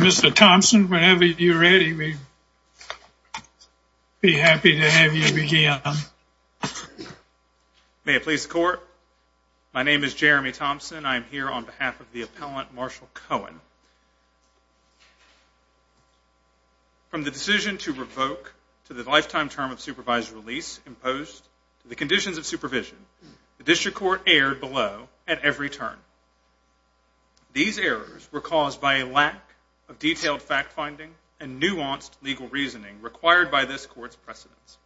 Mr. Thompson, whenever you're ready, we'd be happy to have you begin. May it please the court. My name is Jeremy Thompson. I'm here on behalf of the appellant Marshall Cohen. From the decision to revoke to the lifetime term of supervised release imposed to the conditions of supervision, the district court erred below at every turn. These errors were caused by a lack of detailed fact-finding and nuanced legal reasoning required by this court's precedents.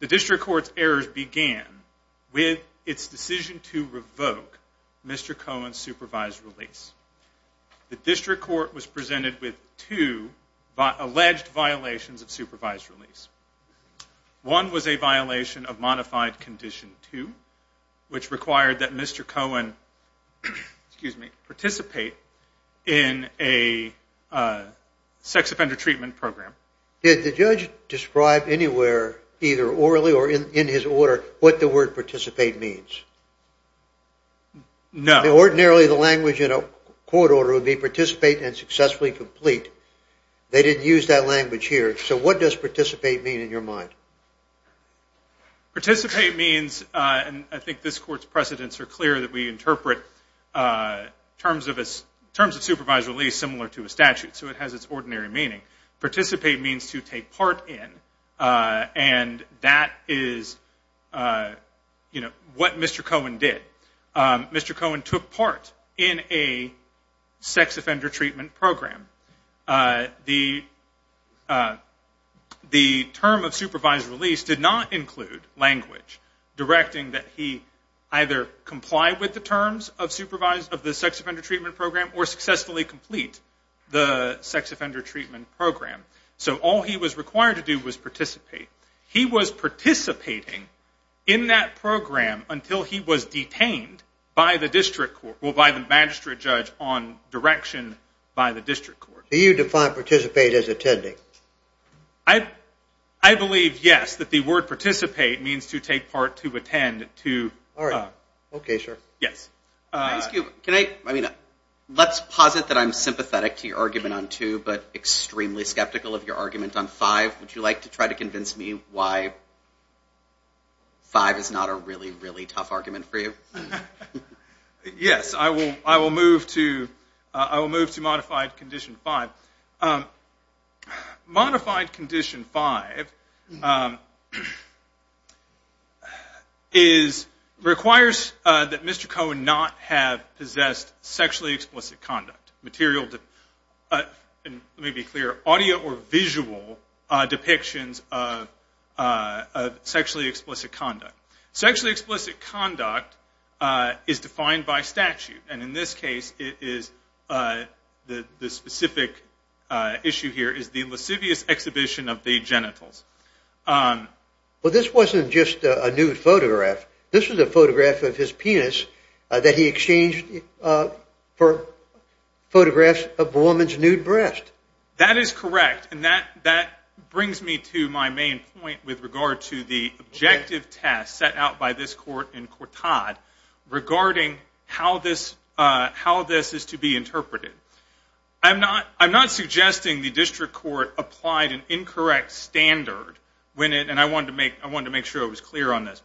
The district court's errors began with its decision to revoke Mr. Cohen's supervised release. The district court was presented with two alleged violations of supervised release. One was a violation of modified condition two, which required that Mr. Cohen participate in a sex offender treatment program. Did the judge describe anywhere, either orally or in his order, what the word participate means? No. Ordinarily the language in a court order would be participate and successfully complete. They didn't use that language here. So what does participate mean in your mind? Participate means, and I think this court's precedents are clear that we interpret terms of supervised release similar to a statute. So it has its ordinary meaning. Participate means to take part in, and that is what Mr. Cohen did. Mr. Cohen took part in a sex offender treatment program. The term of supervised release did not include language directing that he either comply with the terms of the sex offender treatment program or successfully complete the sex offender treatment program. So all he was required to do was participate. He was participating in that program until he was detained by the magistrate judge on direction by the district court. Do you define participate as attending? I believe, yes, that the word participate means to take part, to attend, to- All right. Okay, sir. Yes. Can I ask you, let's posit that I'm sympathetic to your argument on two, but extremely skeptical of your argument on five. Would you like to try to convince me why five is not a really, really tough argument for you? Yes. I will move to modified condition five. Modified condition five requires that Mr. Cohen not have possessed sexually explicit conduct. Material, let me be clear, audio or visual depictions of sexually explicit conduct. Sexually explicit conduct is defined by statute, and in this case it is, the specific issue here is the lascivious exhibition of the genitals. This wasn't just a nude photograph. This was a photograph of his penis that he exchanged for photographs of a woman's nude breast. That is correct, and that brings me to my main point with regard to the objective test set out by this court in Cortad regarding how this is to be interpreted. I'm not suggesting the district court applied an incorrect standard when it, and I wanted to make sure I was clear on this,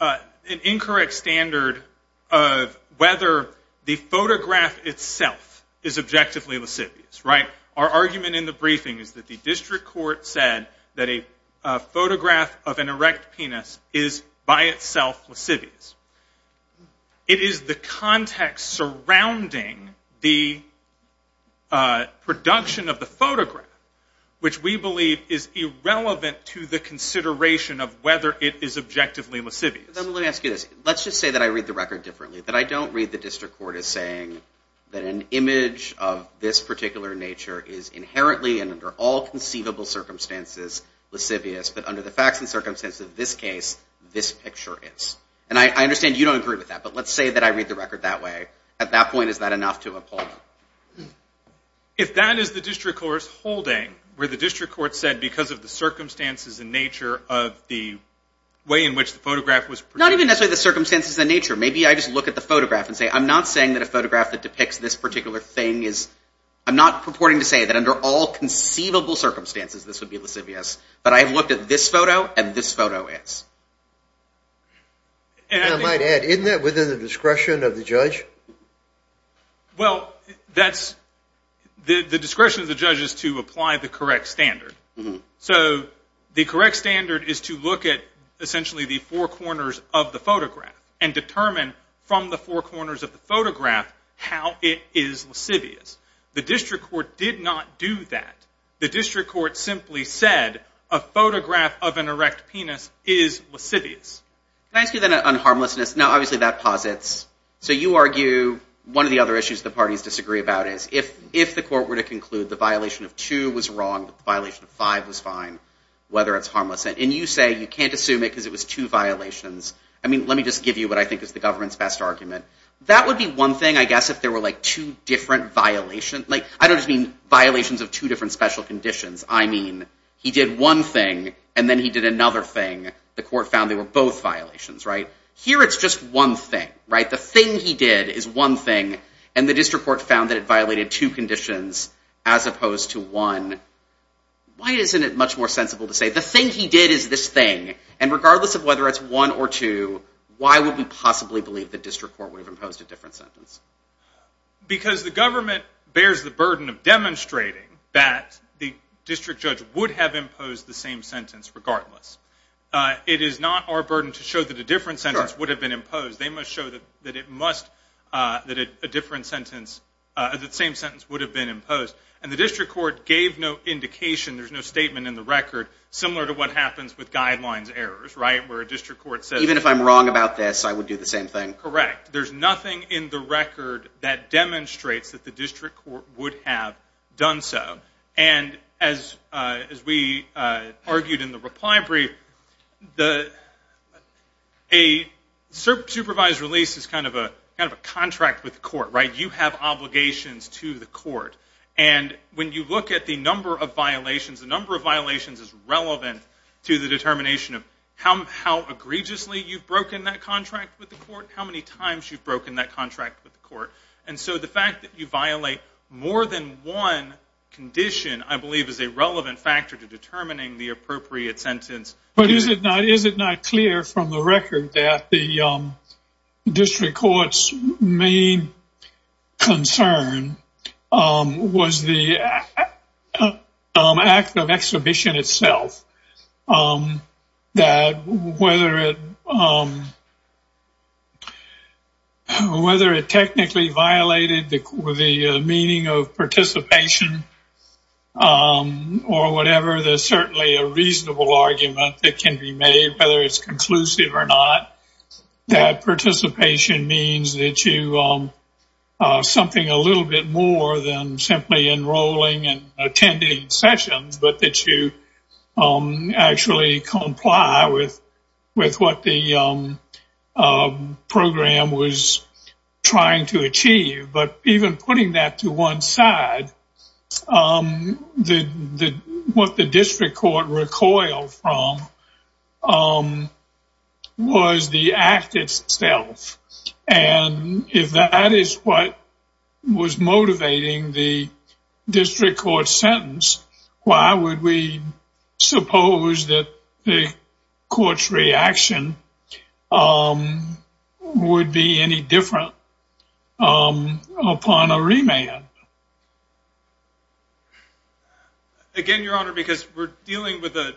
an incorrect standard of whether the photograph itself is objectively lascivious. Our argument in the briefing is that the district court said that a photograph of an erect penis is by itself lascivious. It is the context surrounding the production of the photograph, which we believe is irrelevant to the consideration of whether it is objectively lascivious. Let me ask you this. Let's just say that I read the record differently, that I don't read the district court as saying that an image of this particular nature is inherently and under all conceivable circumstances lascivious, but under the facts and circumstances of this case, this picture is. I understand you don't agree with that, but let's say that I read the record that way. At that point, is that enough to appall me? If that is the district court's holding, where the district court said because of the circumstances and nature of the way in which the photograph was produced. Not even necessarily the circumstances and nature. Maybe I just look at the photograph and say I'm not saying that a photograph that depicts this particular thing is, I'm not purporting to say that under all conceivable circumstances this would be lascivious, but I have looked at this photo and this photo is. And I might add, isn't that within the discretion of the judge? Well, that's, the discretion of the judge is to apply the correct standard. So the correct standard is to look at essentially the four corners of the photograph and determine from the four corners of the photograph how it is lascivious. The district court did not do that. The district court simply said a photograph of an erect penis is lascivious. Can I ask you then on harmlessness? Now obviously that posits. So you argue one of the other issues the parties disagree about is if the court were to conclude the violation of two was wrong, the violation of five was fine, whether it's harmless. And you say you can't assume it because it was two violations. I mean, let me just give you what I think is the government's best argument. That would be one thing, I guess, if there were like two different violations. Like, I don't just mean violations of two different special conditions. I mean, he did one thing, and then he did another thing. The court found they were both violations, right? Here it's just one thing, right? The thing he did is one thing, and the district court found that it violated two conditions as opposed to one. Why isn't it much more sensible to say the thing he did is this thing? And regardless of whether it's one or two, why would we possibly believe the district court would have imposed a different sentence? Because the government bears the burden of demonstrating that the district judge would have imposed the same sentence regardless. It is not our burden to show that a different sentence would have been imposed. They must show that a different sentence, that the same sentence would have been imposed. And the district court gave no indication, there's no statement in the record, similar to what happens with guidelines errors, right? Where a district court says, even if I'm wrong about this, I would do the same thing. Correct. There's nothing in the record that demonstrates that the district court would have done so. And as we argued in the reply brief, a supervised release is kind of a contract with the court, right? You have obligations to the court. And when you look at the number of violations, the number of violations is relevant to the determination of how egregiously you've broken that contract with the court, how many times you've broken that contract with the court. And so the fact that you violate more than one condition, I believe, is a relevant factor to determining the appropriate sentence. But is it not clear from the record that the district court's main concern was the act of exhibition itself? That whether it technically violated the meaning of participation or whatever, there's certainly a reasonable argument that can be made, whether it's conclusive or not, that participation means that you are something a little bit more than simply enrolling and attending sessions, but that you actually comply with what the program was trying to achieve. But even putting that to one side, what the district court recoiled from was the act itself. And if that is what was motivating the district court's sentence, why would we suppose that the court's reaction would be any different upon a remand? Again, Your Honor, because we're dealing with a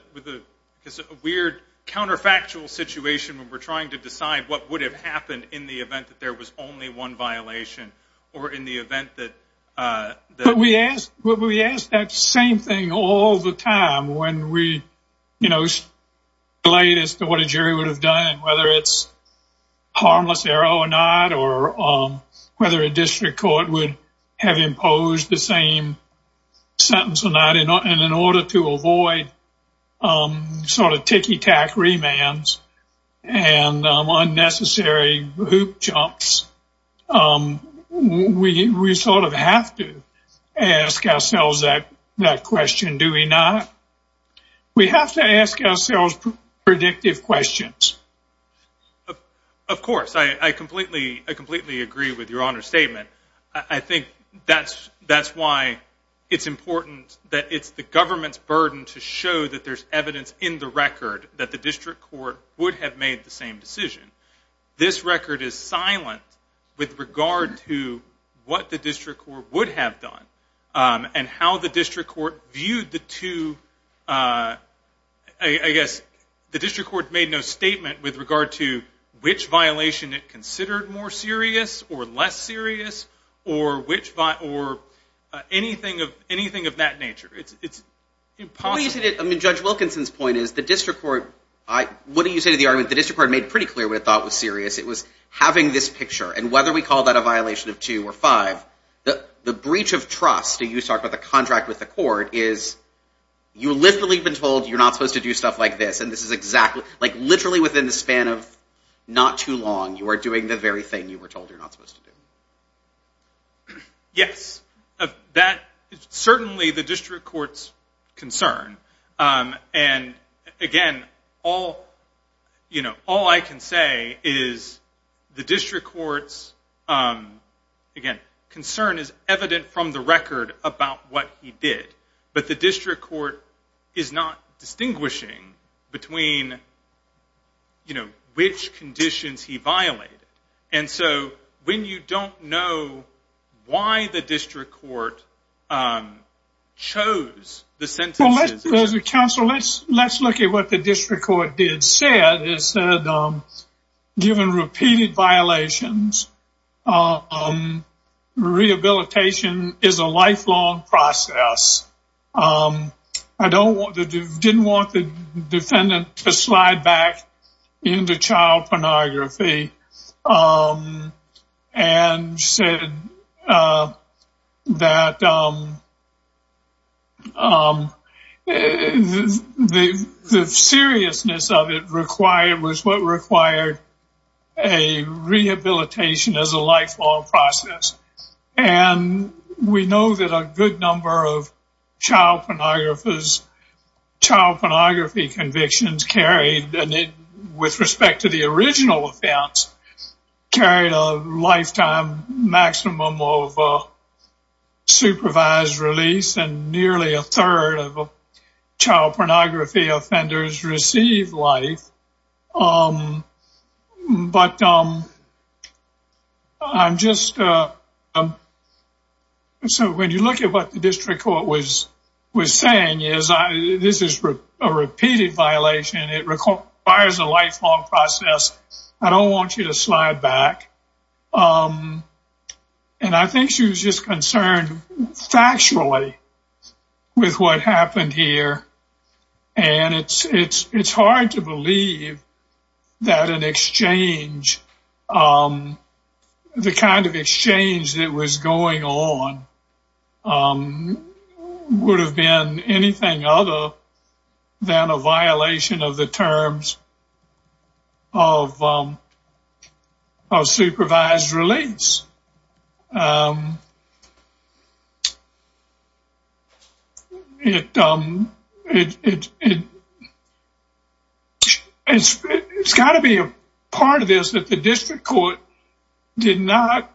weird counterfactual situation when we're trying to decide what would have happened in the event that there was only one violation or in the event that... We ask that same thing all the time when we relate it to what a jury would have done, whether it's harmless error or not, or whether a district court would have imposed the same sentence or not, and in order to avoid sort of ticky-tack remands and unnecessary hoop jumps, we sort of have to ask ourselves that question, do we not? We have to ask ourselves predictive questions. Of course. I completely agree with Your Honor's statement. I think that's why it's important that it's the government's burden to show that there's evidence in the record that the district court would have made the same decision. This record is silent with regard to what the district court would have done and how the district court viewed the two... The district court made no statement with regard to which violation it considered more of a violation of two or five. What do you say to the argument that the district court made pretty clear what it thought was serious? It was having this picture, and whether we call that a violation of two or five, the breach of trust, and you talked about the contract with the court, is you've literally been told you're not supposed to do stuff like this, and this is literally within the span of not too long, you are doing the very thing you were told you're not supposed to do. Yes. That is certainly the district court's concern. Again, all I can say is the district court's, again, concern is evident from the record about what he did, but the district court is not distinguishing between which conditions he violated. When you don't know why the district court chose the sentences... Well, let's look at what the district court did. It said, given repeated violations, rehabilitation is a lifelong process. I didn't want the defendant to slide back into child pornography. And said that the seriousness of it was what required a rehabilitation as a lifelong process. And we know that a good number of child pornography convictions carried, and with respect to the child, carried a lifetime maximum of supervised release, and nearly a third of child pornography offenders received life. But I'm just... So when you look at what the district court was saying, this is a repeated violation, it requires a lifelong process. I don't want you to slide back. And I think she was just concerned factually with what happened here. And it's hard to believe that an exchange, the kind of exchange that was going on, would have been anything other than a violation of the terms of supervised release. It's got to be a part of this that the district court did not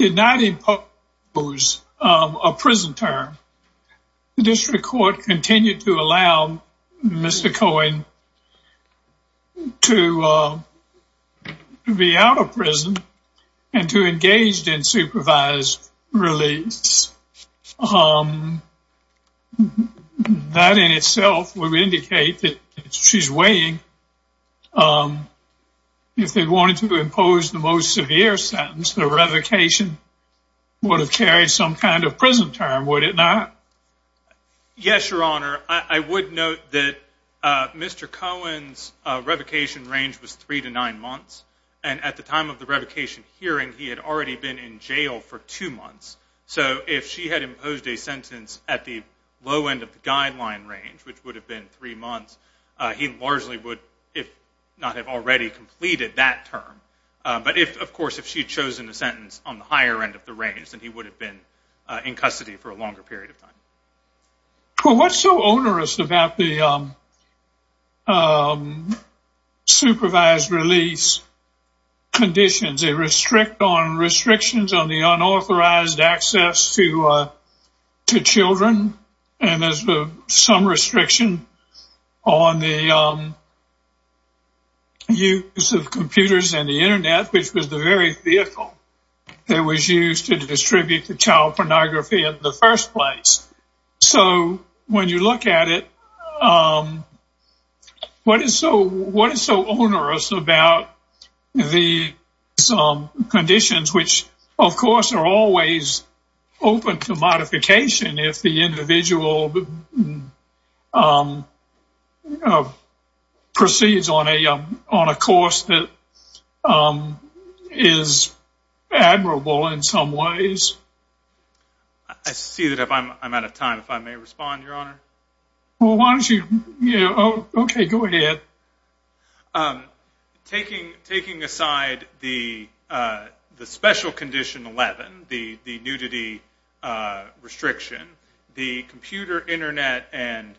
impose a prison term. The district court continued to allow Mr. Cohen to be out of prison and to engage in supervised release. That in itself would indicate that she's weighing, if they wanted to impose the most severe sentence, the I would note that Mr. Cohen's revocation range was three to nine months. And at the time of the revocation hearing, he had already been in jail for two months. So if she had imposed a sentence at the low end of the guideline range, which would have been three months, he largely would, if not have already completed that term. But if, of course, if she had chosen a sentence on the higher end of the range, then he would have been in custody for a longer period of time. Well, what's so onerous about the supervised release conditions? They restrict on restrictions on the unauthorized access to children, and there's some restriction on the use of computers and the child pornography in the first place. So when you look at it, what is so onerous about the conditions which, of course, are always open to modification if the individual proceeds on a course that is admirable in some ways? I see that I'm out of time. If I may respond, Your Honor. Well, why don't you? Okay, go ahead. Taking aside the special condition 11, the nudity restriction, the computer, Internet, and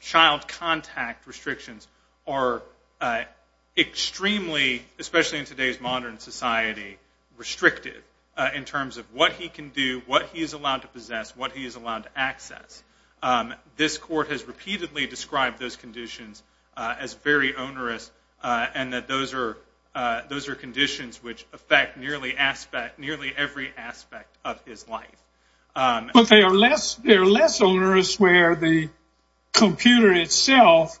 child contact restrictions are extremely, especially in today's modern society, restricted in terms of what he can do, what he is allowed to possess, what he is allowed to access. This court has repeatedly described those conditions as very onerous and that those are conditions which affect nearly every aspect of his life. But they are less onerous where the computer itself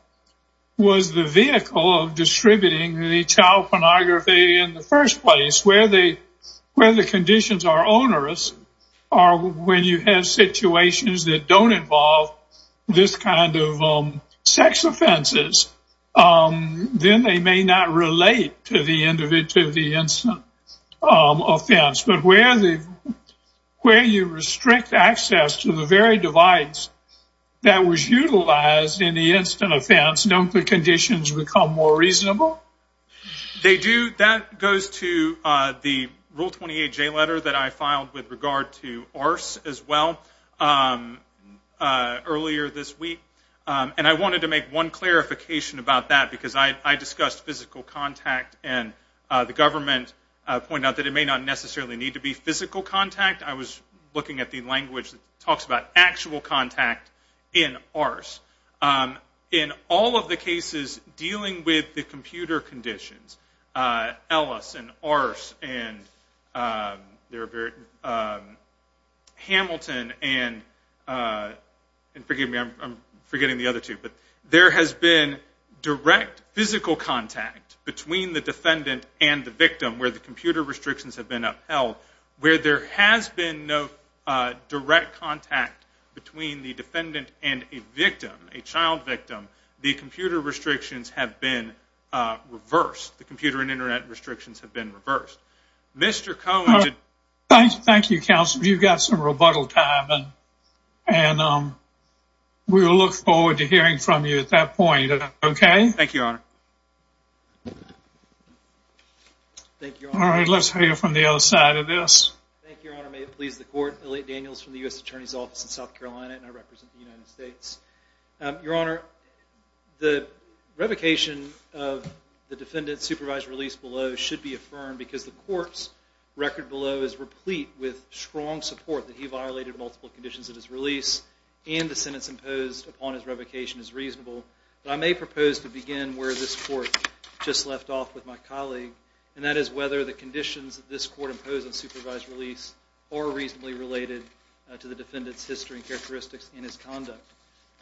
was the vehicle of distributing the child pornography in the first place. Where the conditions are onerous are when you have situations that don't involve this kind of sex offenses, then they may not relate to the incident offense. But where you restrict access to the very device that was utilized in the incident offense, don't the conditions become more reasonable? They do. That goes to the Rule 28J letter that I filed with regard to ARCE as well earlier this week. And I wanted to make one clarification about that because I discussed physical contact and the government pointed out that it may not necessarily need to be physical contact. I was looking at the conditions, Ellis and ARCE and Hamilton and forgive me, I'm forgetting the other two, but there has been direct physical contact between the defendant and the victim where the computer restrictions have been upheld. Where there has been no direct contact between the defendant and a victim, a child victim, the computer and internet restrictions have been reversed. Thank you, counsel. You've got some rebuttal time and we'll look forward to hearing from you at that point. Thank you, Your Honor. All right, let's hear from the other side of this. Thank you, Your Honor. May it please the Court. Elliot Daniels from the U.S. Attorney's Office in South Carolina and I represent the United States. Your Honor, the revocation of the defendant's supervised release below should be affirmed because the Court's record below is replete with strong support that he violated multiple conditions of his release and the sentence imposed upon his revocation is reasonable. But I may propose to begin where this Court just left off with my colleague, and that is whether the conditions that this Court imposed on supervised release are reasonably related to the defendant's history and characteristics in his conduct.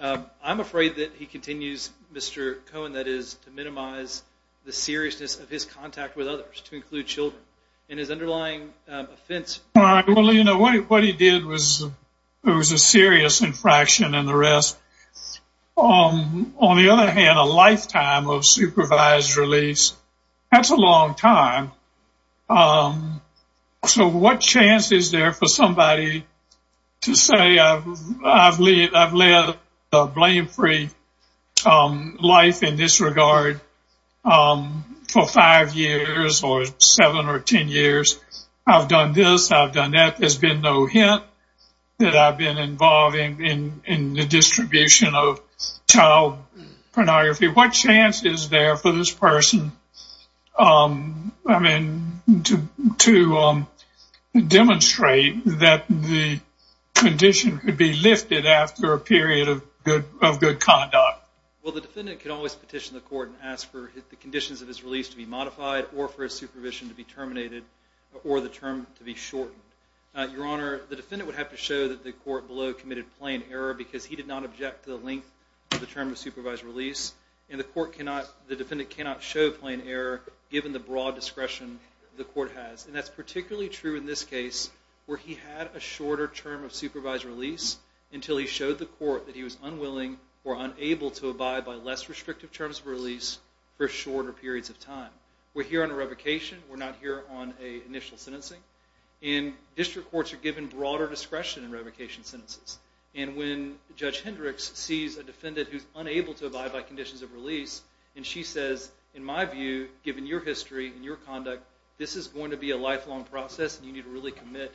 I'm afraid that he continues, Mr. Cohen, that is, to minimize the seriousness of his contact with others, to include children, and his underlying offense... All right, well, you know, what he did was a serious infraction and the rest. On the other hand, a lifetime of supervised release, that's a long time. So what chance is there for somebody to say, I've lived a blame-free life in this regard for 5 years or 7 or 10 years? I've done this, I've done that. There's been no hint that I've been involved in the distribution of child pornography. What chance is there for this person to demonstrate that the condition could be lifted after a period of good conduct? Well, the defendant could always petition the Court and ask for the conditions of his release to be modified or for his supervision to be terminated or the term to be shortened. Your Honor, the defendant would have to show that the Court below committed plain error because he did not object to the length of the term of supervised release, and the defendant cannot show plain error given the broad discretion the Court has. And that's particularly true in this case where he had a shorter term of supervised release until he showed the Court that he was unwilling or unable to abide by less restrictive terms of release for shorter periods of time. We're here on a revocation. We're not here on an initial sentencing. And district courts are given broader discretion in revocation sentences. And when Judge Hendricks sees a defendant who's unable to abide by conditions of release, and she says, in my view, given your history and your conduct, this is going to be a lifelong process and you need to really commit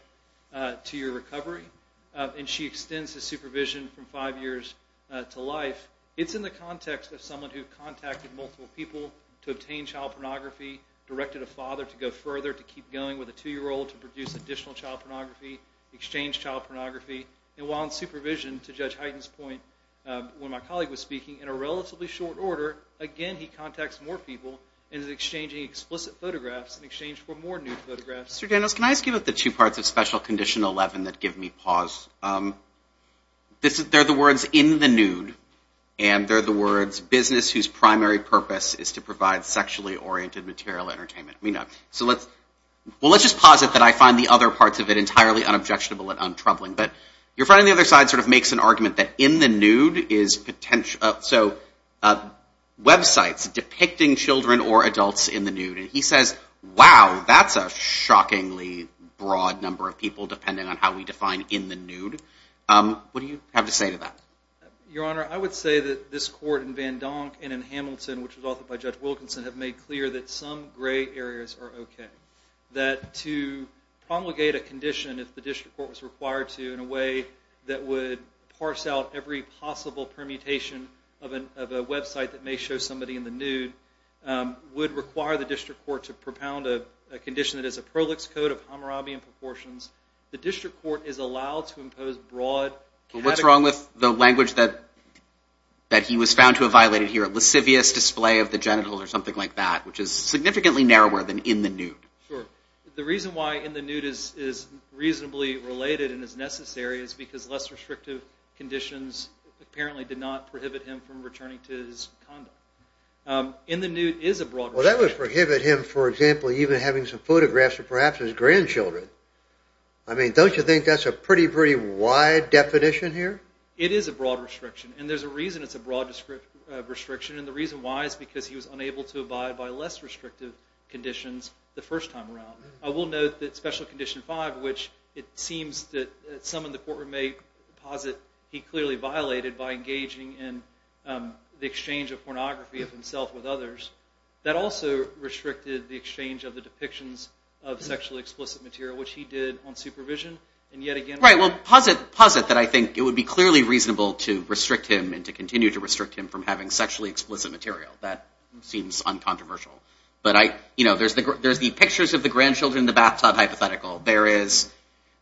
to your recovery, and she extends his supervision from five years to life, it's in the context of someone who contacted multiple people to obtain child pornography, directed a father to go further, to keep going with a two-year-old to produce additional child pornography, exchange child pornography, and while in supervision, to Judge Hyten's point, when my colleague was speaking, in a relatively short order, again, he contacts more people and is exchanging explicit photographs in exchange for more nude photographs. Mr. Daniels, can I ask you about the two parts of Special Condition 11 that give me pause? They're the words, in the nude, and they're the words, business whose primary purpose is to provide sexually oriented material entertainment. Well, let's just posit that I find the other parts of it entirely unobjectionable and untroubling, but your friend on the other side sort of makes an argument that in the nude is potential, so websites depicting children or adults in the nude, and he says, wow, that's a shockingly broad number of people depending on how we define in the nude. What do you have to say to that? Your Honor, I would say that this court in Van Donk and in Hamilton, which was authored by Judge Wilkinson, have made clear that some gray areas are okay, that to promulgate a condition, if the district court was required to, in a way that would parse out every possible permutation of a website that may show somebody in the nude, would require the district court to propound a condition that is a prolix code of Hammurabi in proportions. The district court is allowed to impose broad categories. Well, what's wrong with the language that he was found to have violated here, lascivious display of the genitals or something like that, which is significantly narrower than in the nude? Sure. The reason why in the nude is reasonably related and is necessary is because less restrictive conditions apparently did not prohibit him from returning to his condo. In the nude is a broad restriction. Well, that would prohibit him, for example, even having some photographs of perhaps his grandchildren. I mean, don't you think that's a pretty, pretty wide definition here? It is a broad restriction, and there's a reason it's a broad restriction, and the reason why is because he was unable to abide by less restrictive conditions the first time around. I will note that Special Condition 5, which it seems that some in the courtroom may posit he clearly violated by engaging in the exchange of pornography of himself with others, that also restricted the exchange of the depictions of sexually explicit material, which he did on supervision. Right. Well, posit that I think it would be clearly reasonable to restrict him and to continue to restrict him from having sexually explicit material. That seems uncontroversial. But there's the pictures of the grandchildren in the bathtub hypothetical. There is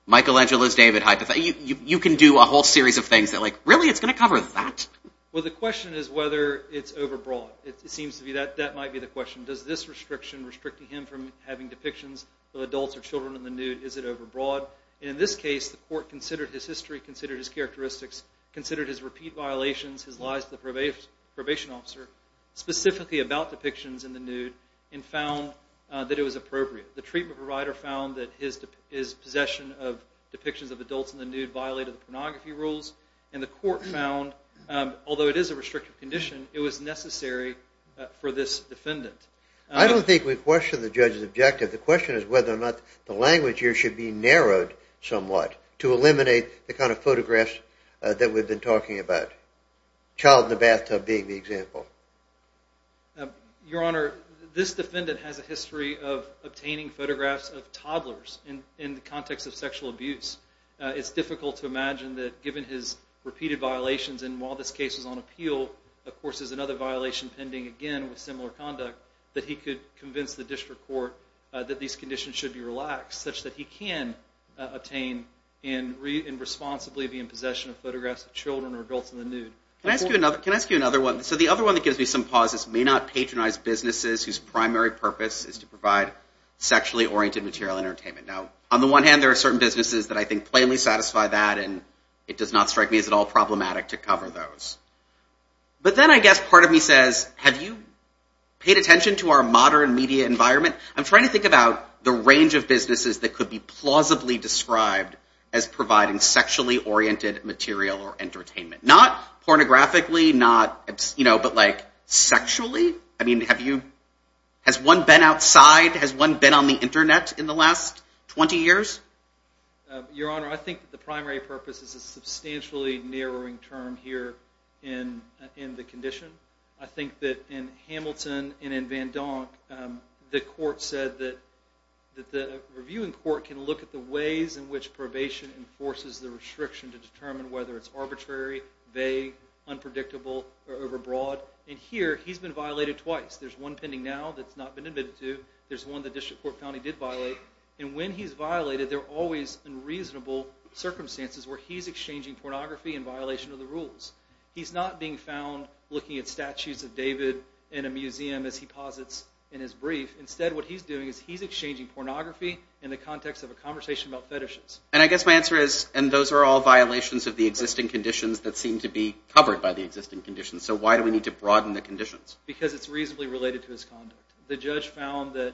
Michelangelo's David hypothetical. You can do a whole series of things that like, really? It's going to cover that? Well, the question is whether it's overbroad. It seems to be that that might be the question. Does this restriction restricting him from having depictions of adults or children in the nude, is it overbroad? In this case, the court considered his history, considered his characteristics, considered his repeat violations, his lies to the probation officer, specifically about depictions in the nude, and found that it was appropriate. The treatment provider found that his possession of depictions of adults in the nude violated the pornography rules, and the court found, although it is a restrictive condition, it was necessary for this defendant. I don't think we question the judge's objective. The question is whether or not the language here should be narrowed somewhat to eliminate the kind of photographs that we've been talking about, child in the bathtub being the example. Your Honor, this defendant has a history of obtaining photographs of toddlers in the context of sexual abuse. It's difficult to imagine that given his repeated violations, and while this case is on appeal, of course there's another violation pending again with similar conduct, that he could convince the district court that these conditions should be relaxed such that he can obtain and responsibly be in possession of photographs of children or adults in the nude. Can I ask you another one? So the other one that gives me some pause is may not patronize businesses whose primary purpose is to provide sexually oriented material entertainment. Now, on the one hand, there are certain businesses that I think plainly satisfy that, and it does not strike me as at all problematic to cover those. But then I guess part of me says, have you paid attention to our modern media environment? I'm trying to think about the range of businesses that could be plausibly described as providing sexually oriented material or entertainment. Not pornographically, not, you know, but like sexually? I mean, have you, has one been outside? Has one been on the internet in the last 20 years? Your Honor, I think the primary purpose is a substantially narrowing term here in the condition. I think that in Hamilton and in Van Donk, the court said that the reviewing court can look at the ways in which probation enforces the restriction to determine whether it's arbitrary, vague, unpredictable, or overbroad. And here, he's been violated twice. There's one pending now that's not been admitted to. There's one the district court found he did violate. And when he's violated, there are always unreasonable circumstances where he's exchanging pornography in violation of the rules. He's not being found looking at statues of David in a museum as he posits in his brief. Instead, what he's doing is he's exchanging pornography in the context of a conversation about fetishes. And I guess my answer is, and those are all violations of the existing conditions that seem to be covered by the existing conditions, so why do we need to broaden the conditions? Because it's reasonably related to his conduct. The judge found that,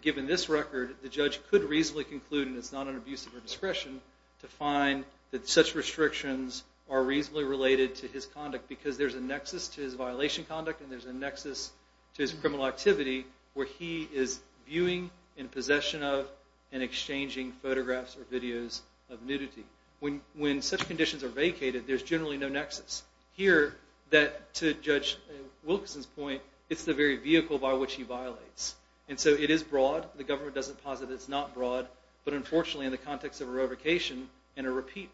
given this record, the judge could reasonably conclude, and it's not an abuse of her discretion, to find that such restrictions are reasonably related to his conduct because there's a nexus to his violation conduct and there's a nexus to his criminal activity where he is viewing in possession of and exchanging photographs or videos of nudity. When such conditions are vacated, there's generally no nexus. Here, to Judge Wilkerson's point, it's the very vehicle by which he violates. And so it is broad. The government doesn't posit it's not broad. But unfortunately, in the context of a revocation, in a repeat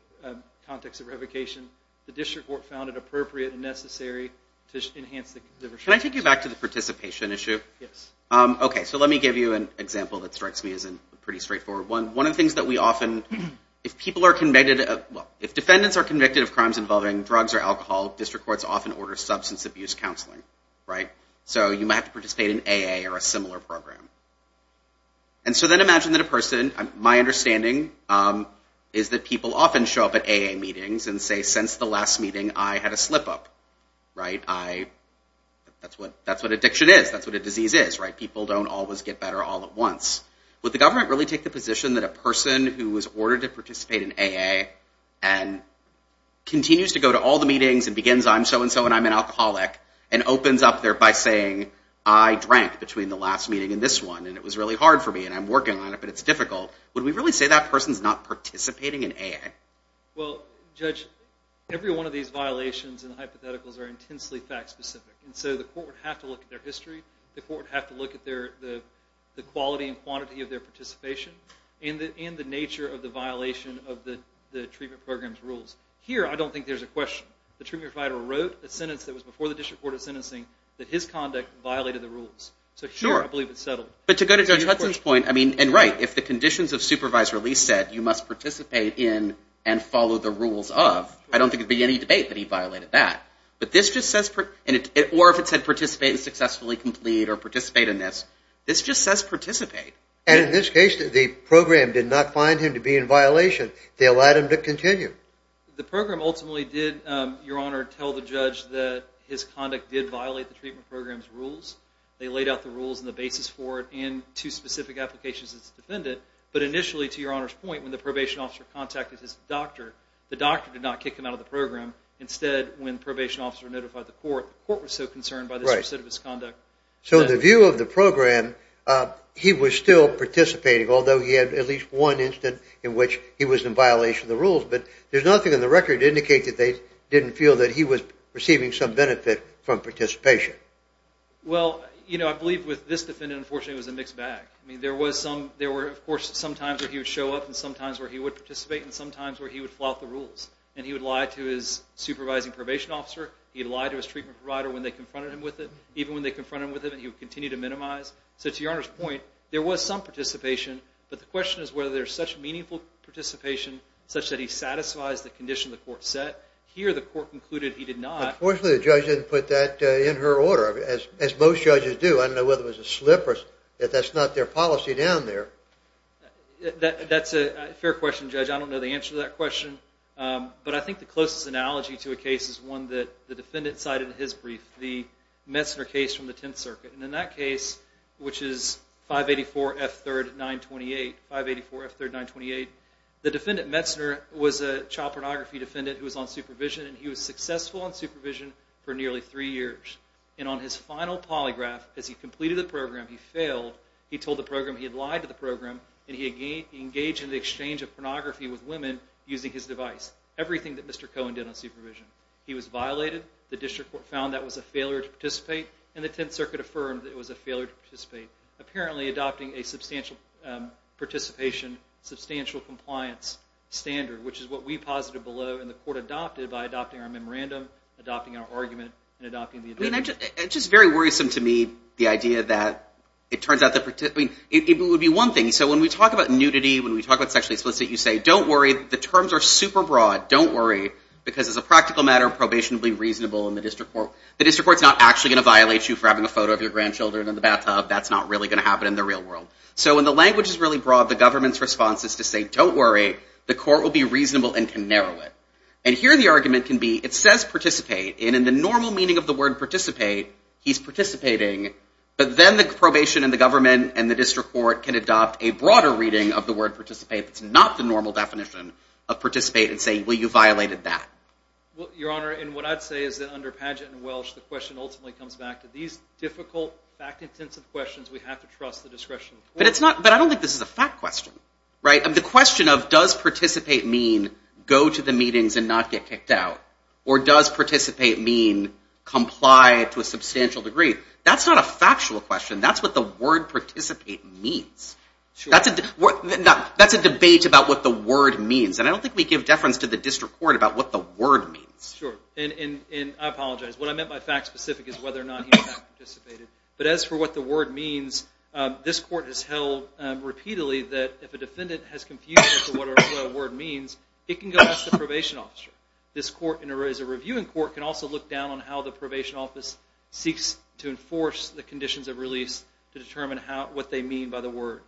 context of revocation, the district court found it appropriate and necessary to enhance the restriction. Can I take you back to the participation issue? Yes. Okay, so let me give you an example that strikes me as a pretty straightforward one. One of the things that we often, if people are convicted of, if defendants are convicted of crimes involving drugs or alcohol, district courts often order substance abuse counseling. So you might have to participate in AA or a similar program. And so then imagine that a person, my understanding, is that people often show up at AA meetings and say, since the last meeting, I had a slip-up. That's what addiction is. That's what a disease is. People don't always get better all at once. Would the government really take the position that a person who was ordered to participate in AA and continues to go to all the meetings and begins, I'm so-and-so and I'm an alcoholic, and opens up there by saying, I drank between the last meeting and this one and it was really hard for me and I'm working on it but it's difficult, would we really say that person's not participating in AA? Well, Judge, every one of these violations and hypotheticals are intensely fact-specific. And so the court would have to look at their history. The court would have to look at the quality and quantity of their participation and the nature of the violation of the treatment program's rules. Here, I don't think there's a question. The treatment provider wrote a sentence that was before the District Court of Sentencing that his conduct violated the rules. So here I believe it's settled. But to go to Judge Hudson's point, I mean, and right, if the conditions of supervised release said you must participate in and follow the rules of, I don't think it would be any debate that he violated that. But this just says, or if it said participate in successfully complete or participate in this, this just says participate. And in this case, the program did not find him to be in violation. They allowed him to continue. The program ultimately did, Your Honor, tell the judge that his conduct did violate the treatment program's rules. They laid out the rules and the basis for it and two specific applications as a defendant. But initially, to Your Honor's point, when the probation officer contacted his doctor, the doctor did not kick him out of the program. Instead, when the probation officer notified the court, the court was so concerned by the specificity of his conduct. So in the view of the program, he was still participating, although he had at least one incident in which he was in violation of the rules. But there's nothing on the record to indicate that they didn't feel that he was receiving some benefit from participation. Well, you know, I believe with this defendant, unfortunately, it was a mixed bag. I mean, there were, of course, some times where he would show up and some times where he would participate and some times where he would flout the rules. And he would lie to his supervising probation officer. He'd lie to his treatment provider when they confronted him with it. Even when they confronted him with it, he would continue to minimize. So to Your Honor's point, there was some participation, but the question is whether there's such meaningful participation such that he satisfies the condition the court set. Here, the court concluded he did not. Unfortunately, the judge didn't put that in her order, as most judges do. I don't know whether it was a slip or if that's not their policy down there. That's a fair question, Judge. I don't know the answer to that question. But I think the closest analogy to a case is one that the defendant cited in his brief. The Metzner case from the Tenth Circuit. And in that case, which is 584 F. 3rd 928, the defendant, Metzner, was a child pornography defendant who was on supervision, and he was successful on supervision for nearly three years. And on his final polygraph, as he completed the program, he failed. He told the program he had lied to the program, and he engaged in the exchange of pornography with women using his device. Everything that Mr. Cohen did on supervision. He was violated. The district court found that was a failure to participate, and the Tenth Circuit affirmed that it was a failure to participate, apparently adopting a substantial participation, substantial compliance standard, which is what we posited below, and the court adopted it by adopting our memorandum, adopting our argument, and adopting the evidence. It's just very worrisome to me, the idea that it turns out that it would be one thing. So when we talk about nudity, when we talk about sexually explicit, you say don't worry. The terms are super broad. Don't worry, because as a practical matter, probation would be reasonable in the district court. The district court's not actually going to violate you for having a photo of your grandchildren in the bathtub. That's not really going to happen in the real world. So when the language is really broad, the government's response is to say don't worry. The court will be reasonable and can narrow it. And here the argument can be it says participate, and in the normal meaning of the word participate, he's participating, but then the probation and the government and the district court can adopt a broader reading of the word participate that's not the normal definition of participate and say, well, you violated that. Well, Your Honor, and what I'd say is that under pageant and Welsh, the question ultimately comes back to these difficult, fact-intensive questions. We have to trust the discretion of the court. But I don't think this is a fact question. The question of does participate mean go to the meetings and not get kicked out, or does participate mean comply to a substantial degree, that's not a factual question. That's what the word participate means. That's a debate about what the word means. And I don't think we give deference to the district court about what the word means. Sure. And I apologize. What I meant by fact-specific is whether or not he participated. But as for what the word means, this court has held repeatedly that if a defendant has confusion as to what a word means, it can go back to the probation officer. This court, as a reviewing court, can also look down on how the probation office seeks to enforce the conditions of release to determine what they mean by the word.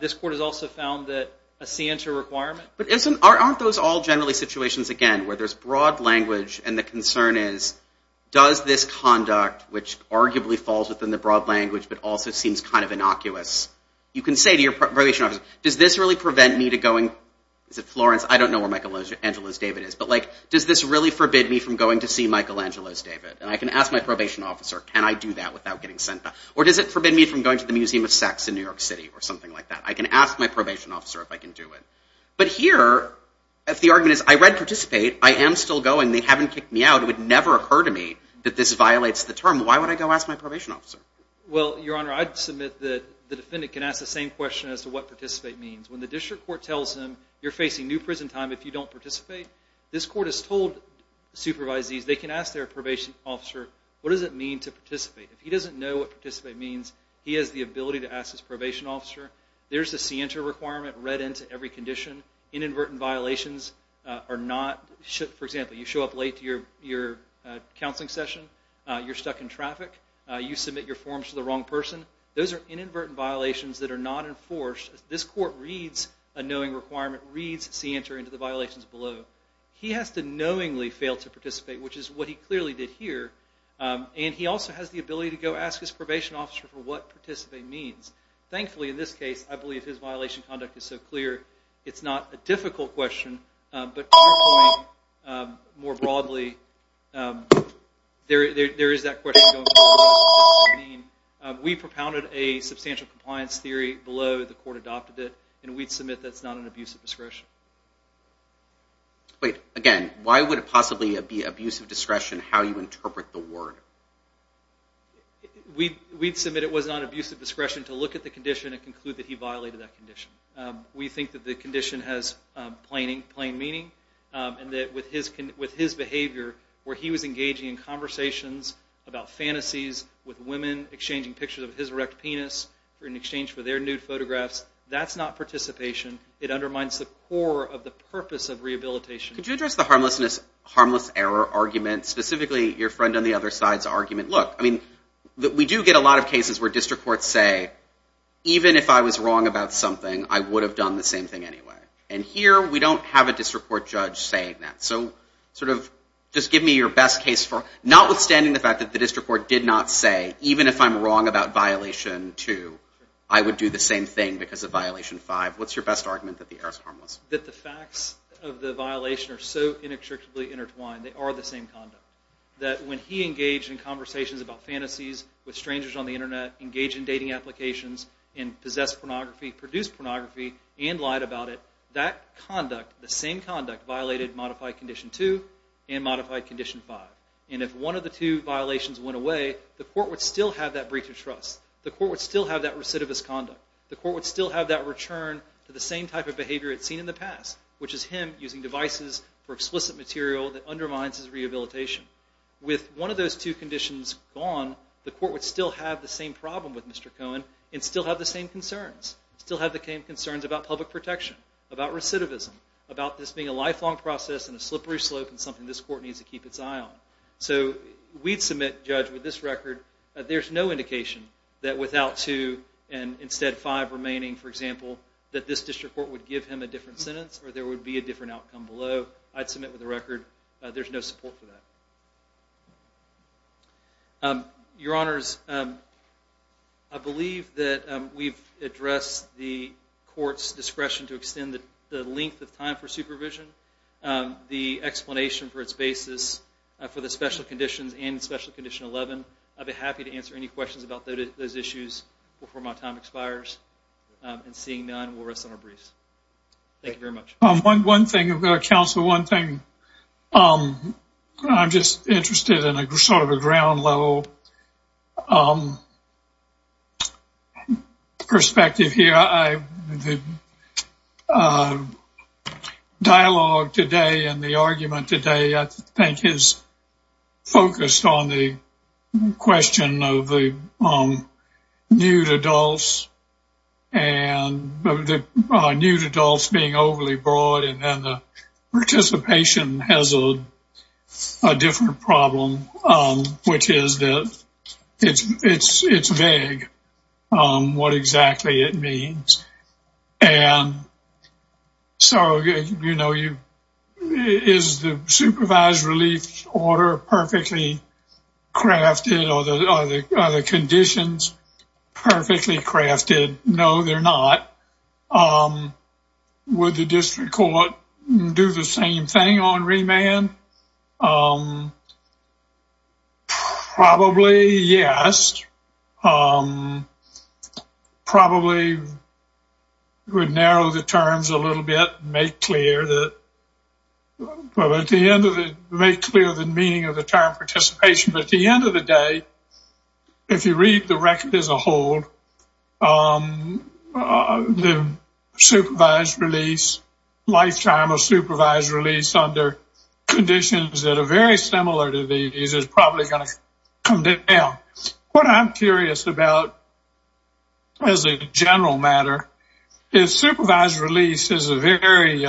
This court has also found that a scienter requirement But aren't those all generally situations, again, where there's broad language and the concern is does this conduct, which arguably falls within the broad language but also seems kind of innocuous, you can say to your probation officer, does this really prevent me to going to Florence? I don't know where Michelangelo's David is. But does this really forbid me from going to see Michelangelo's David? And I can ask my probation officer, can I do that without getting sent back? Or does it forbid me from going to the Museum of Sex in New York City or something like that? I can ask my probation officer if I can do it. But here, if the argument is I read Participate, I am still going, they haven't kicked me out, it would never occur to me that this violates the term, why would I go ask my probation officer? Well, Your Honor, I'd submit that the defendant can ask the same question as to what Participate means. When the district court tells him you're facing new prison time if you don't participate, this court has told supervisees they can ask their probation officer what does it mean to participate? If he doesn't know what Participate means, he has the ability to ask his probation officer. There's a CENTER requirement read into every condition. Inadvertent violations are not, for example, you show up late to your counseling session, you're stuck in traffic, you submit your forms to the wrong person, those are inadvertent violations that are not enforced. This court reads a knowing requirement, reads CENTER into the violations below. He has to knowingly fail to participate, which is what he clearly did here. And he also has the ability to go ask his probation officer for what Participate means. Thankfully, in this case, I believe his violation conduct is so clear, it's not a difficult question, but to your point, more broadly, there is that question going on about what does Participate mean. We propounded a substantial compliance theory below, the court adopted it, and we'd submit that's not an abuse of discretion. Wait, again, why would it possibly be abuse of discretion how you interpret the word? We'd submit it was not abuse of discretion to look at the condition and conclude that he violated that condition. We think that the condition has plain meaning and that with his behavior, where he was engaging in conversations about fantasies with women, exchanging pictures of his erect penis in exchange for their nude photographs, that's not participation, it undermines the core of the purpose of rehabilitation. Could you address the harmless error argument, specifically your friend on the other side's argument? Look, we do get a lot of cases where district courts say, even if I was wrong about something, I would have done the same thing anyway. And here, we don't have a district court judge saying that. So just give me your best case, notwithstanding the fact that the district court did not say, even if I'm wrong about violation two, I would do the same thing because of violation five. What's your best argument that the error is harmless? That the facts of the violation are so inextricably intertwined, they are the same conduct. That when he engaged in conversations about fantasies with strangers on the Internet, engaged in dating applications, and possessed pornography, produced pornography, and lied about it, that conduct, the same conduct, violated modified condition two and modified condition five. And if one of the two violations went away, the court would still have that breach of trust. The court would still have that recidivist conduct. The court would still have that return to the same type of behavior it's seen in the past, which is him using devices for explicit material that undermines his rehabilitation. With one of those two conditions gone, the court would still have the same problem with Mr. Cohen and still have the same concerns, still have the same concerns about public protection, about recidivism, about this being a lifelong process and a slippery slope and something this court needs to keep its eye on. So we'd submit, Judge, with this record, there's no indication that without two and instead five remaining, for example, that this district court would give him a different sentence or there would be a different outcome below. I'd submit with the record there's no support for that. Your Honors, I believe that we've addressed the court's discretion to extend the length of time for supervision, the explanation for its basis for the special conditions and Special Condition 11. I'd be happy to answer any questions about those issues before my time expires. And seeing none, we'll rest on our briefs. Thank you very much. One thing, Counsel, one thing. I'm just interested in sort of a ground level perspective here. The dialogue today and the argument today I think is focused on the question of the nude adults and the nude adults being overly broad and then the participation has a different problem, which is that it's vague what exactly it means. And so, you know, is the supervised relief order perfectly crafted? Are the conditions perfectly crafted? No, they're not. Would the district court do the same thing on remand? Probably, yes. Probably would narrow the terms a little bit and make clear the meaning of the term participation. But at the end of the day, if you read the record as a whole, the supervised release, lifetime of supervised release under conditions that are very similar to these is probably going to come down. What I'm curious about as a general matter is supervised release is a very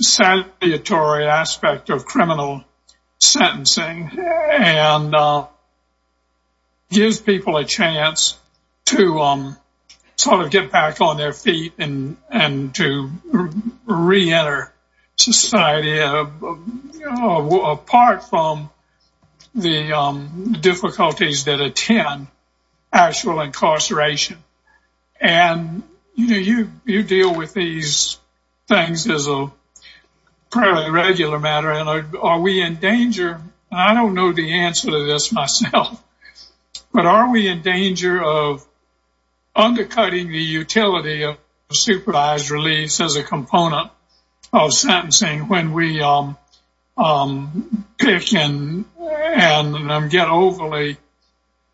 salutary aspect of criminal sentencing and gives people a chance to sort of get back on their feet and to reenter society apart from the difficulties that attend actual incarceration. And, you know, you deal with these things as a regular matter. And are we in danger? I don't know the answer to this myself. But are we in danger of undercutting the utility of supervised release as a component of sentencing when we pick and get overly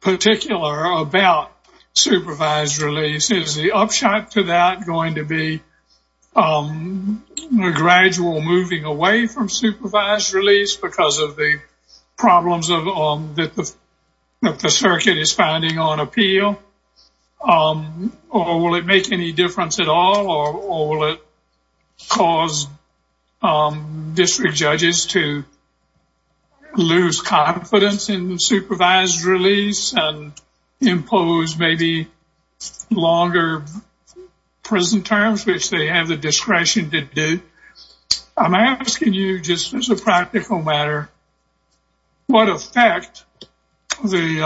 particular about supervised release? Is the upshot to that going to be a gradual moving away from supervised release because of the problems that the circuit is finding on appeal? Or will it make any difference at all? Or will it cause district judges to lose confidence in supervised release and impose maybe longer prison terms, which they have the discretion to do? I'm asking you just as a practical matter what effect all of these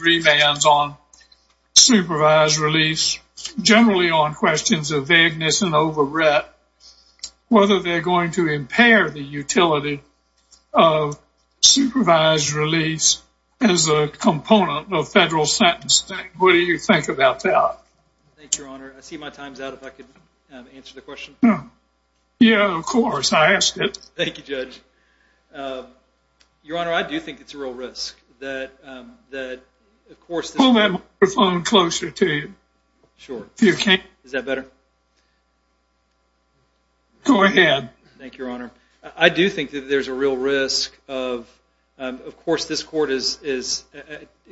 remands on supervised release, generally on questions of vagueness and over rep, whether they're going to impair the utility of supervised release as a component of federal sentencing. What do you think about that? Thank you, Your Honor. I see my time's out. If I could answer the question. Yeah, of course. I asked it. Thank you, Judge. Your Honor, I do think it's a real risk that, of course, Pull that microphone closer to you. Sure. Is that better? Go ahead. Thank you, Your Honor. I do think that there's a real risk of, of course, this court is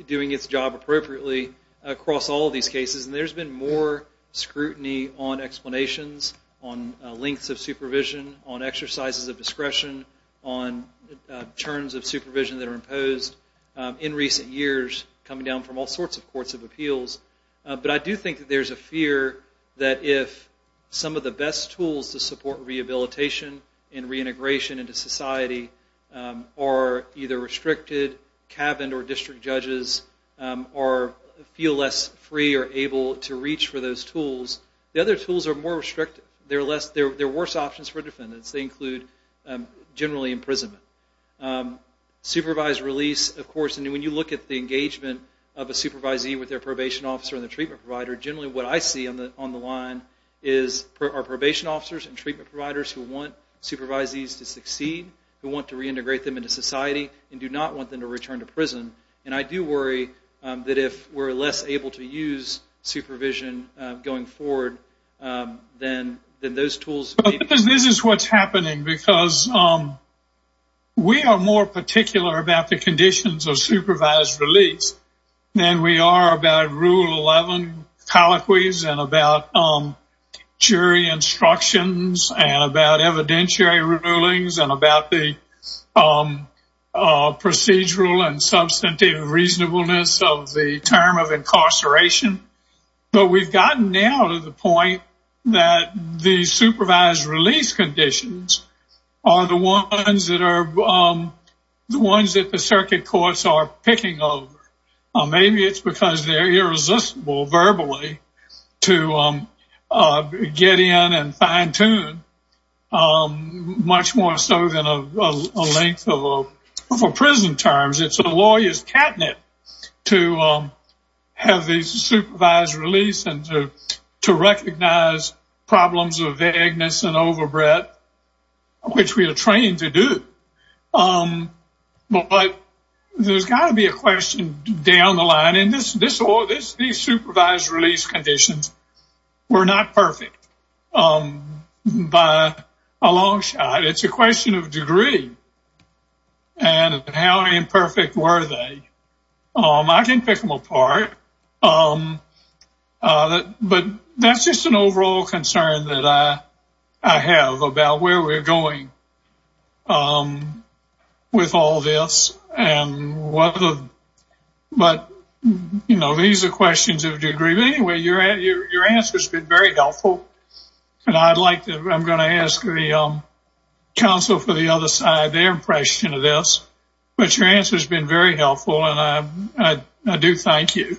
doing its job appropriately across all of these cases. And there's been more scrutiny on explanations, on lengths of supervision, on exercises of discretion, on terms of supervision that are imposed in recent years, coming down from all sorts of courts of appeals. But I do think that there's a fear that if some of the best tools to support rehabilitation and reintegration into society are either restricted, cabined or district judges, or feel less free or able to reach for those tools, the other tools are more restrictive. They're worse options for defendants. They include generally imprisonment. Supervised release, of course, and when you look at the engagement of a supervisee with their probation officer and their treatment provider, generally what I see on the line are probation officers and treatment providers who want supervisees to succeed, who want to reintegrate them into society and do not want them to return to prison. And I do worry that if we're less able to use supervision going forward, then those tools may be. Because this is what's happening, because we are more particular about the conditions of supervised release than we are about Rule 11 colloquies and about jury instructions and about evidentiary rulings and about the procedural and substantive reasonableness of the term of incarceration. But we've gotten now to the point that the supervised release conditions are the ones that the circuit courts are picking over. Maybe it's because they're irresistible verbally to get in and fine-tune, much more so than a length of prison terms. It's a lawyer's catnip to have the supervised release and to recognize problems of vagueness and overbreadth, which we are trained to do. But there's got to be a question down the line, and these supervised release conditions were not perfect by a long shot. It's a question of degree and how imperfect were they. I can pick them apart. But that's just an overall concern that I have about where we're going with all this. But, you know, these are questions of degree. Anyway, your answer's been very helpful, and I'm going to ask the counsel for the other side their impression of this. But your answer's been very helpful, and I do thank you.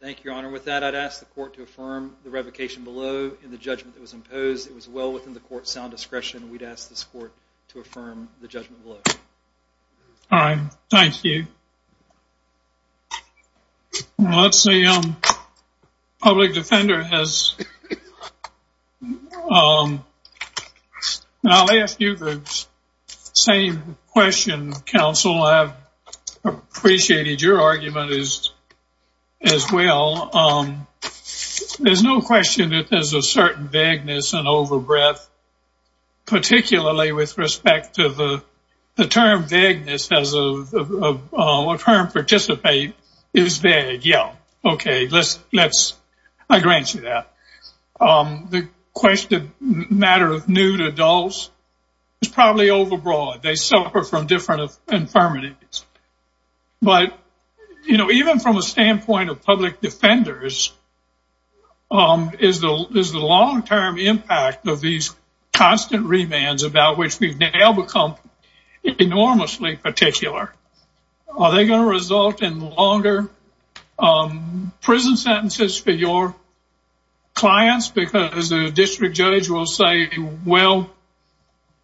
Thank you, Your Honor. With that, I'd ask the court to affirm the revocation below in the judgment that was imposed. It was well within the court's sound discretion, and we'd ask this court to affirm the judgment below. All right. Thank you. Let's see. Public Defender has. I'll ask you the same question, counsel. I've appreciated your argument as well. There's no question that there's a certain vagueness and overbreadth, particularly with respect to the term vagueness as a term to participate is vague. Yeah. Okay. I grant you that. The question of matter of nude adults is probably overbroad. They suffer from different infirmities. But, you know, even from a standpoint of public defenders, is the long-term impact of these constant remands about which we've now become enormously particular, are they going to result in longer prison sentences for your clients? Because the district judge will say, well,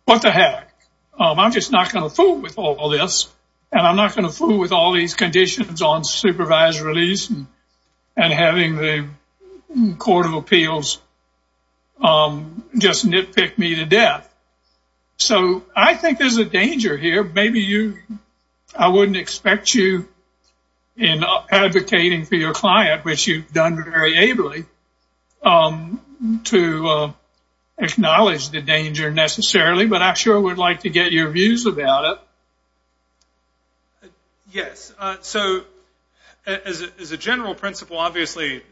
what the heck? I'm just not going to fool with all this, and I'm not going to fool with all these conditions on supervised release and having the Court of Appeals just nitpick me to death. So I think there's a danger here. I wouldn't expect you in advocating for your client, which you've done very ably, to acknowledge the danger necessarily, but I sure would like to get your views about it. Yes. So as a general principle, obviously,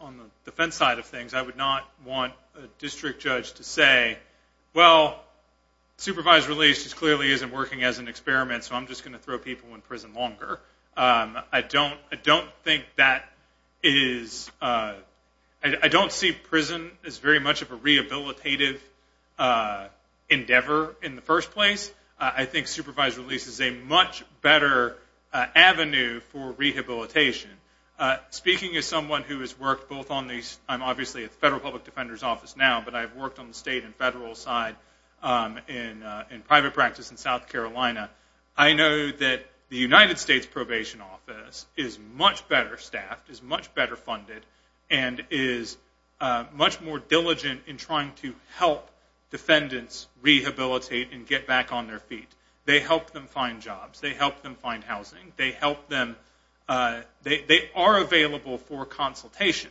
on the defense side of things, I would not want a district judge to say, well, supervised release clearly isn't working as an experiment, so I'm just going to throw people in prison longer. I don't think that is – I don't see prison as very much of a rehabilitative endeavor in the first place. I think supervised release is a much better avenue for rehabilitation. Speaking as someone who has worked both on the – but I've worked on the state and federal side in private practice in South Carolina, I know that the United States Probation Office is much better staffed, is much better funded, and is much more diligent in trying to help defendants rehabilitate and get back on their feet. They help them find jobs. They help them find housing. They help them – they are available for consultation.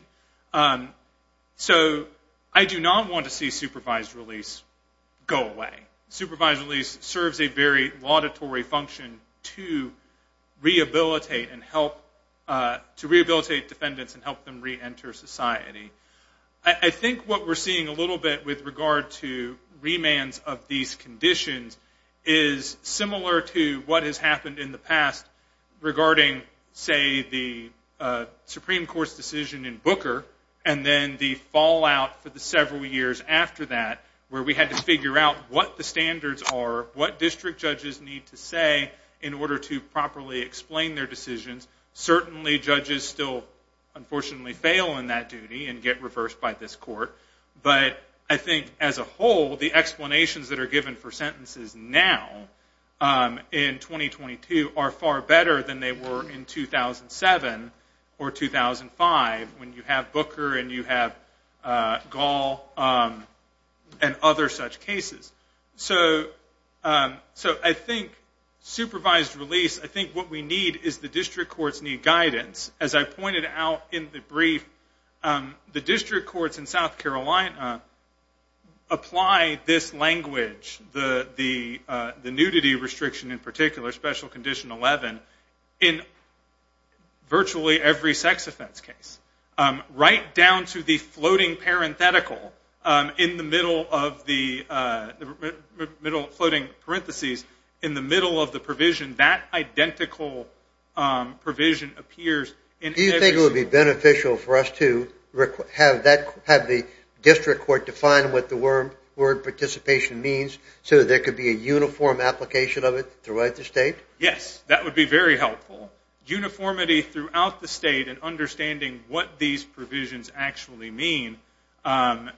So I do not want to see supervised release go away. Supervised release serves a very laudatory function to rehabilitate and help – to rehabilitate defendants and help them reenter society. I think what we're seeing a little bit with regard to remands of these conditions is similar to what has happened in the past regarding, say, the Supreme Court's decision in Booker and then the fallout for the several years after that where we had to figure out what the standards are, what district judges need to say in order to properly explain their decisions. Certainly, judges still unfortunately fail in that duty and get reversed by this court. But I think as a whole, the explanations that are given for sentences now in 2022 are far better than they were in 2007 or 2005 when you have Booker and you have Gall and other such cases. So I think supervised release, I think what we need is the district courts need guidance. As I pointed out in the brief, the district courts in South Carolina apply this language, the nudity restriction in particular, Special Condition 11, in virtually every sex offense case, right down to the floating parenthetical in the middle of the provision. That identical provision appears in every… Do you think it would be beneficial for us to have the district court to define what the word participation means so that there could be a uniform application of it throughout the state? Yes, that would be very helpful. Uniformity throughout the state and understanding what these provisions actually mean would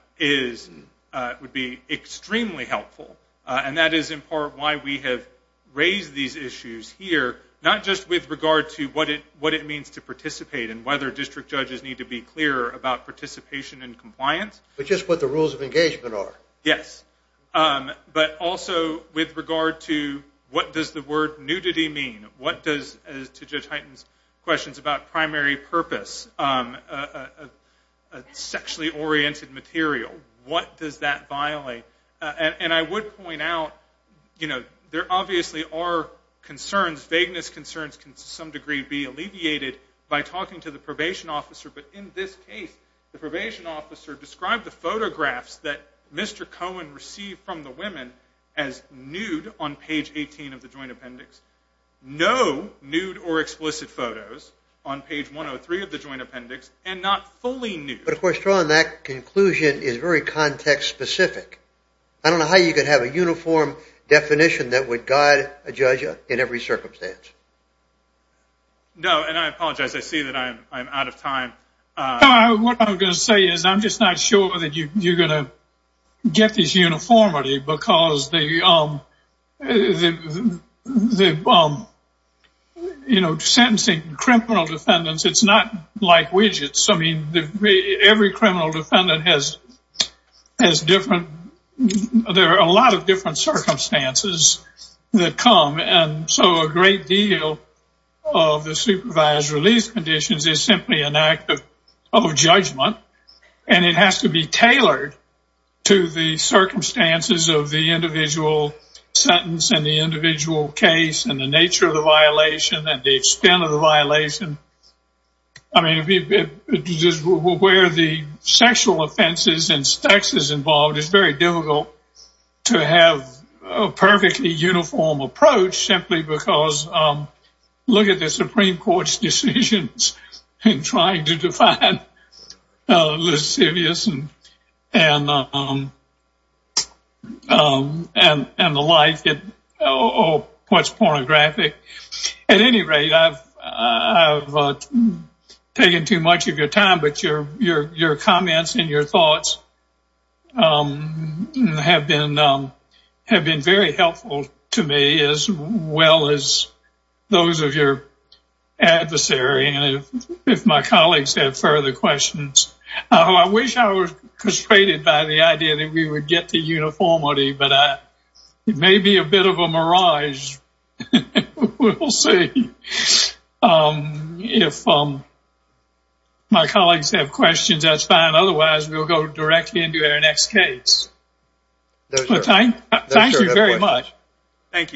be extremely helpful. And that is in part why we have raised these issues here, not just with regard to what it means to participate and whether district judges need to be clear about participation and compliance… But just what the rules of engagement are. Yes, but also with regard to what does the word nudity mean, what does, to Judge Hyten's questions about primary purpose, a sexually oriented material, what does that violate? And I would point out there obviously are concerns, vagueness concerns can to some degree be alleviated by talking to the probation officer, but in this case the probation officer described the photographs that Mr. Cohen received from the women as nude on page 18 of the joint appendix. No nude or explicit photos on page 103 of the joint appendix and not fully nude. But of course, John, that conclusion is very context specific. I don't know how you could have a uniform definition that would guide a judge in every circumstance. No, and I apologize, I see that I'm out of time. What I'm going to say is I'm just not sure that you're going to get this uniformity because the, you know, sentencing criminal defendants, it's not like widgets. I mean, every criminal defendant has different, there are a lot of different circumstances that come. And so a great deal of the supervised release conditions is simply an act of judgment and it has to be tailored to the circumstances of the individual sentence and the individual case and the nature of the violation and the extent of the violation. I mean, where the sexual offenses and sex is involved, it's very difficult to have a perfectly uniform approach simply because look at the Supreme Court's decisions in trying to define lascivious and the like or what's pornographic. At any rate, I've taken too much of your time, but your comments and your thoughts have been very helpful to me as well as those of your adversary and if my colleagues have further questions. I wish I was frustrated by the idea that we would get the uniformity, but it may be a bit of a mirage. We'll see. If my colleagues have questions, that's fine. Otherwise, we'll go directly into our next case. Thank you very much. Thank you.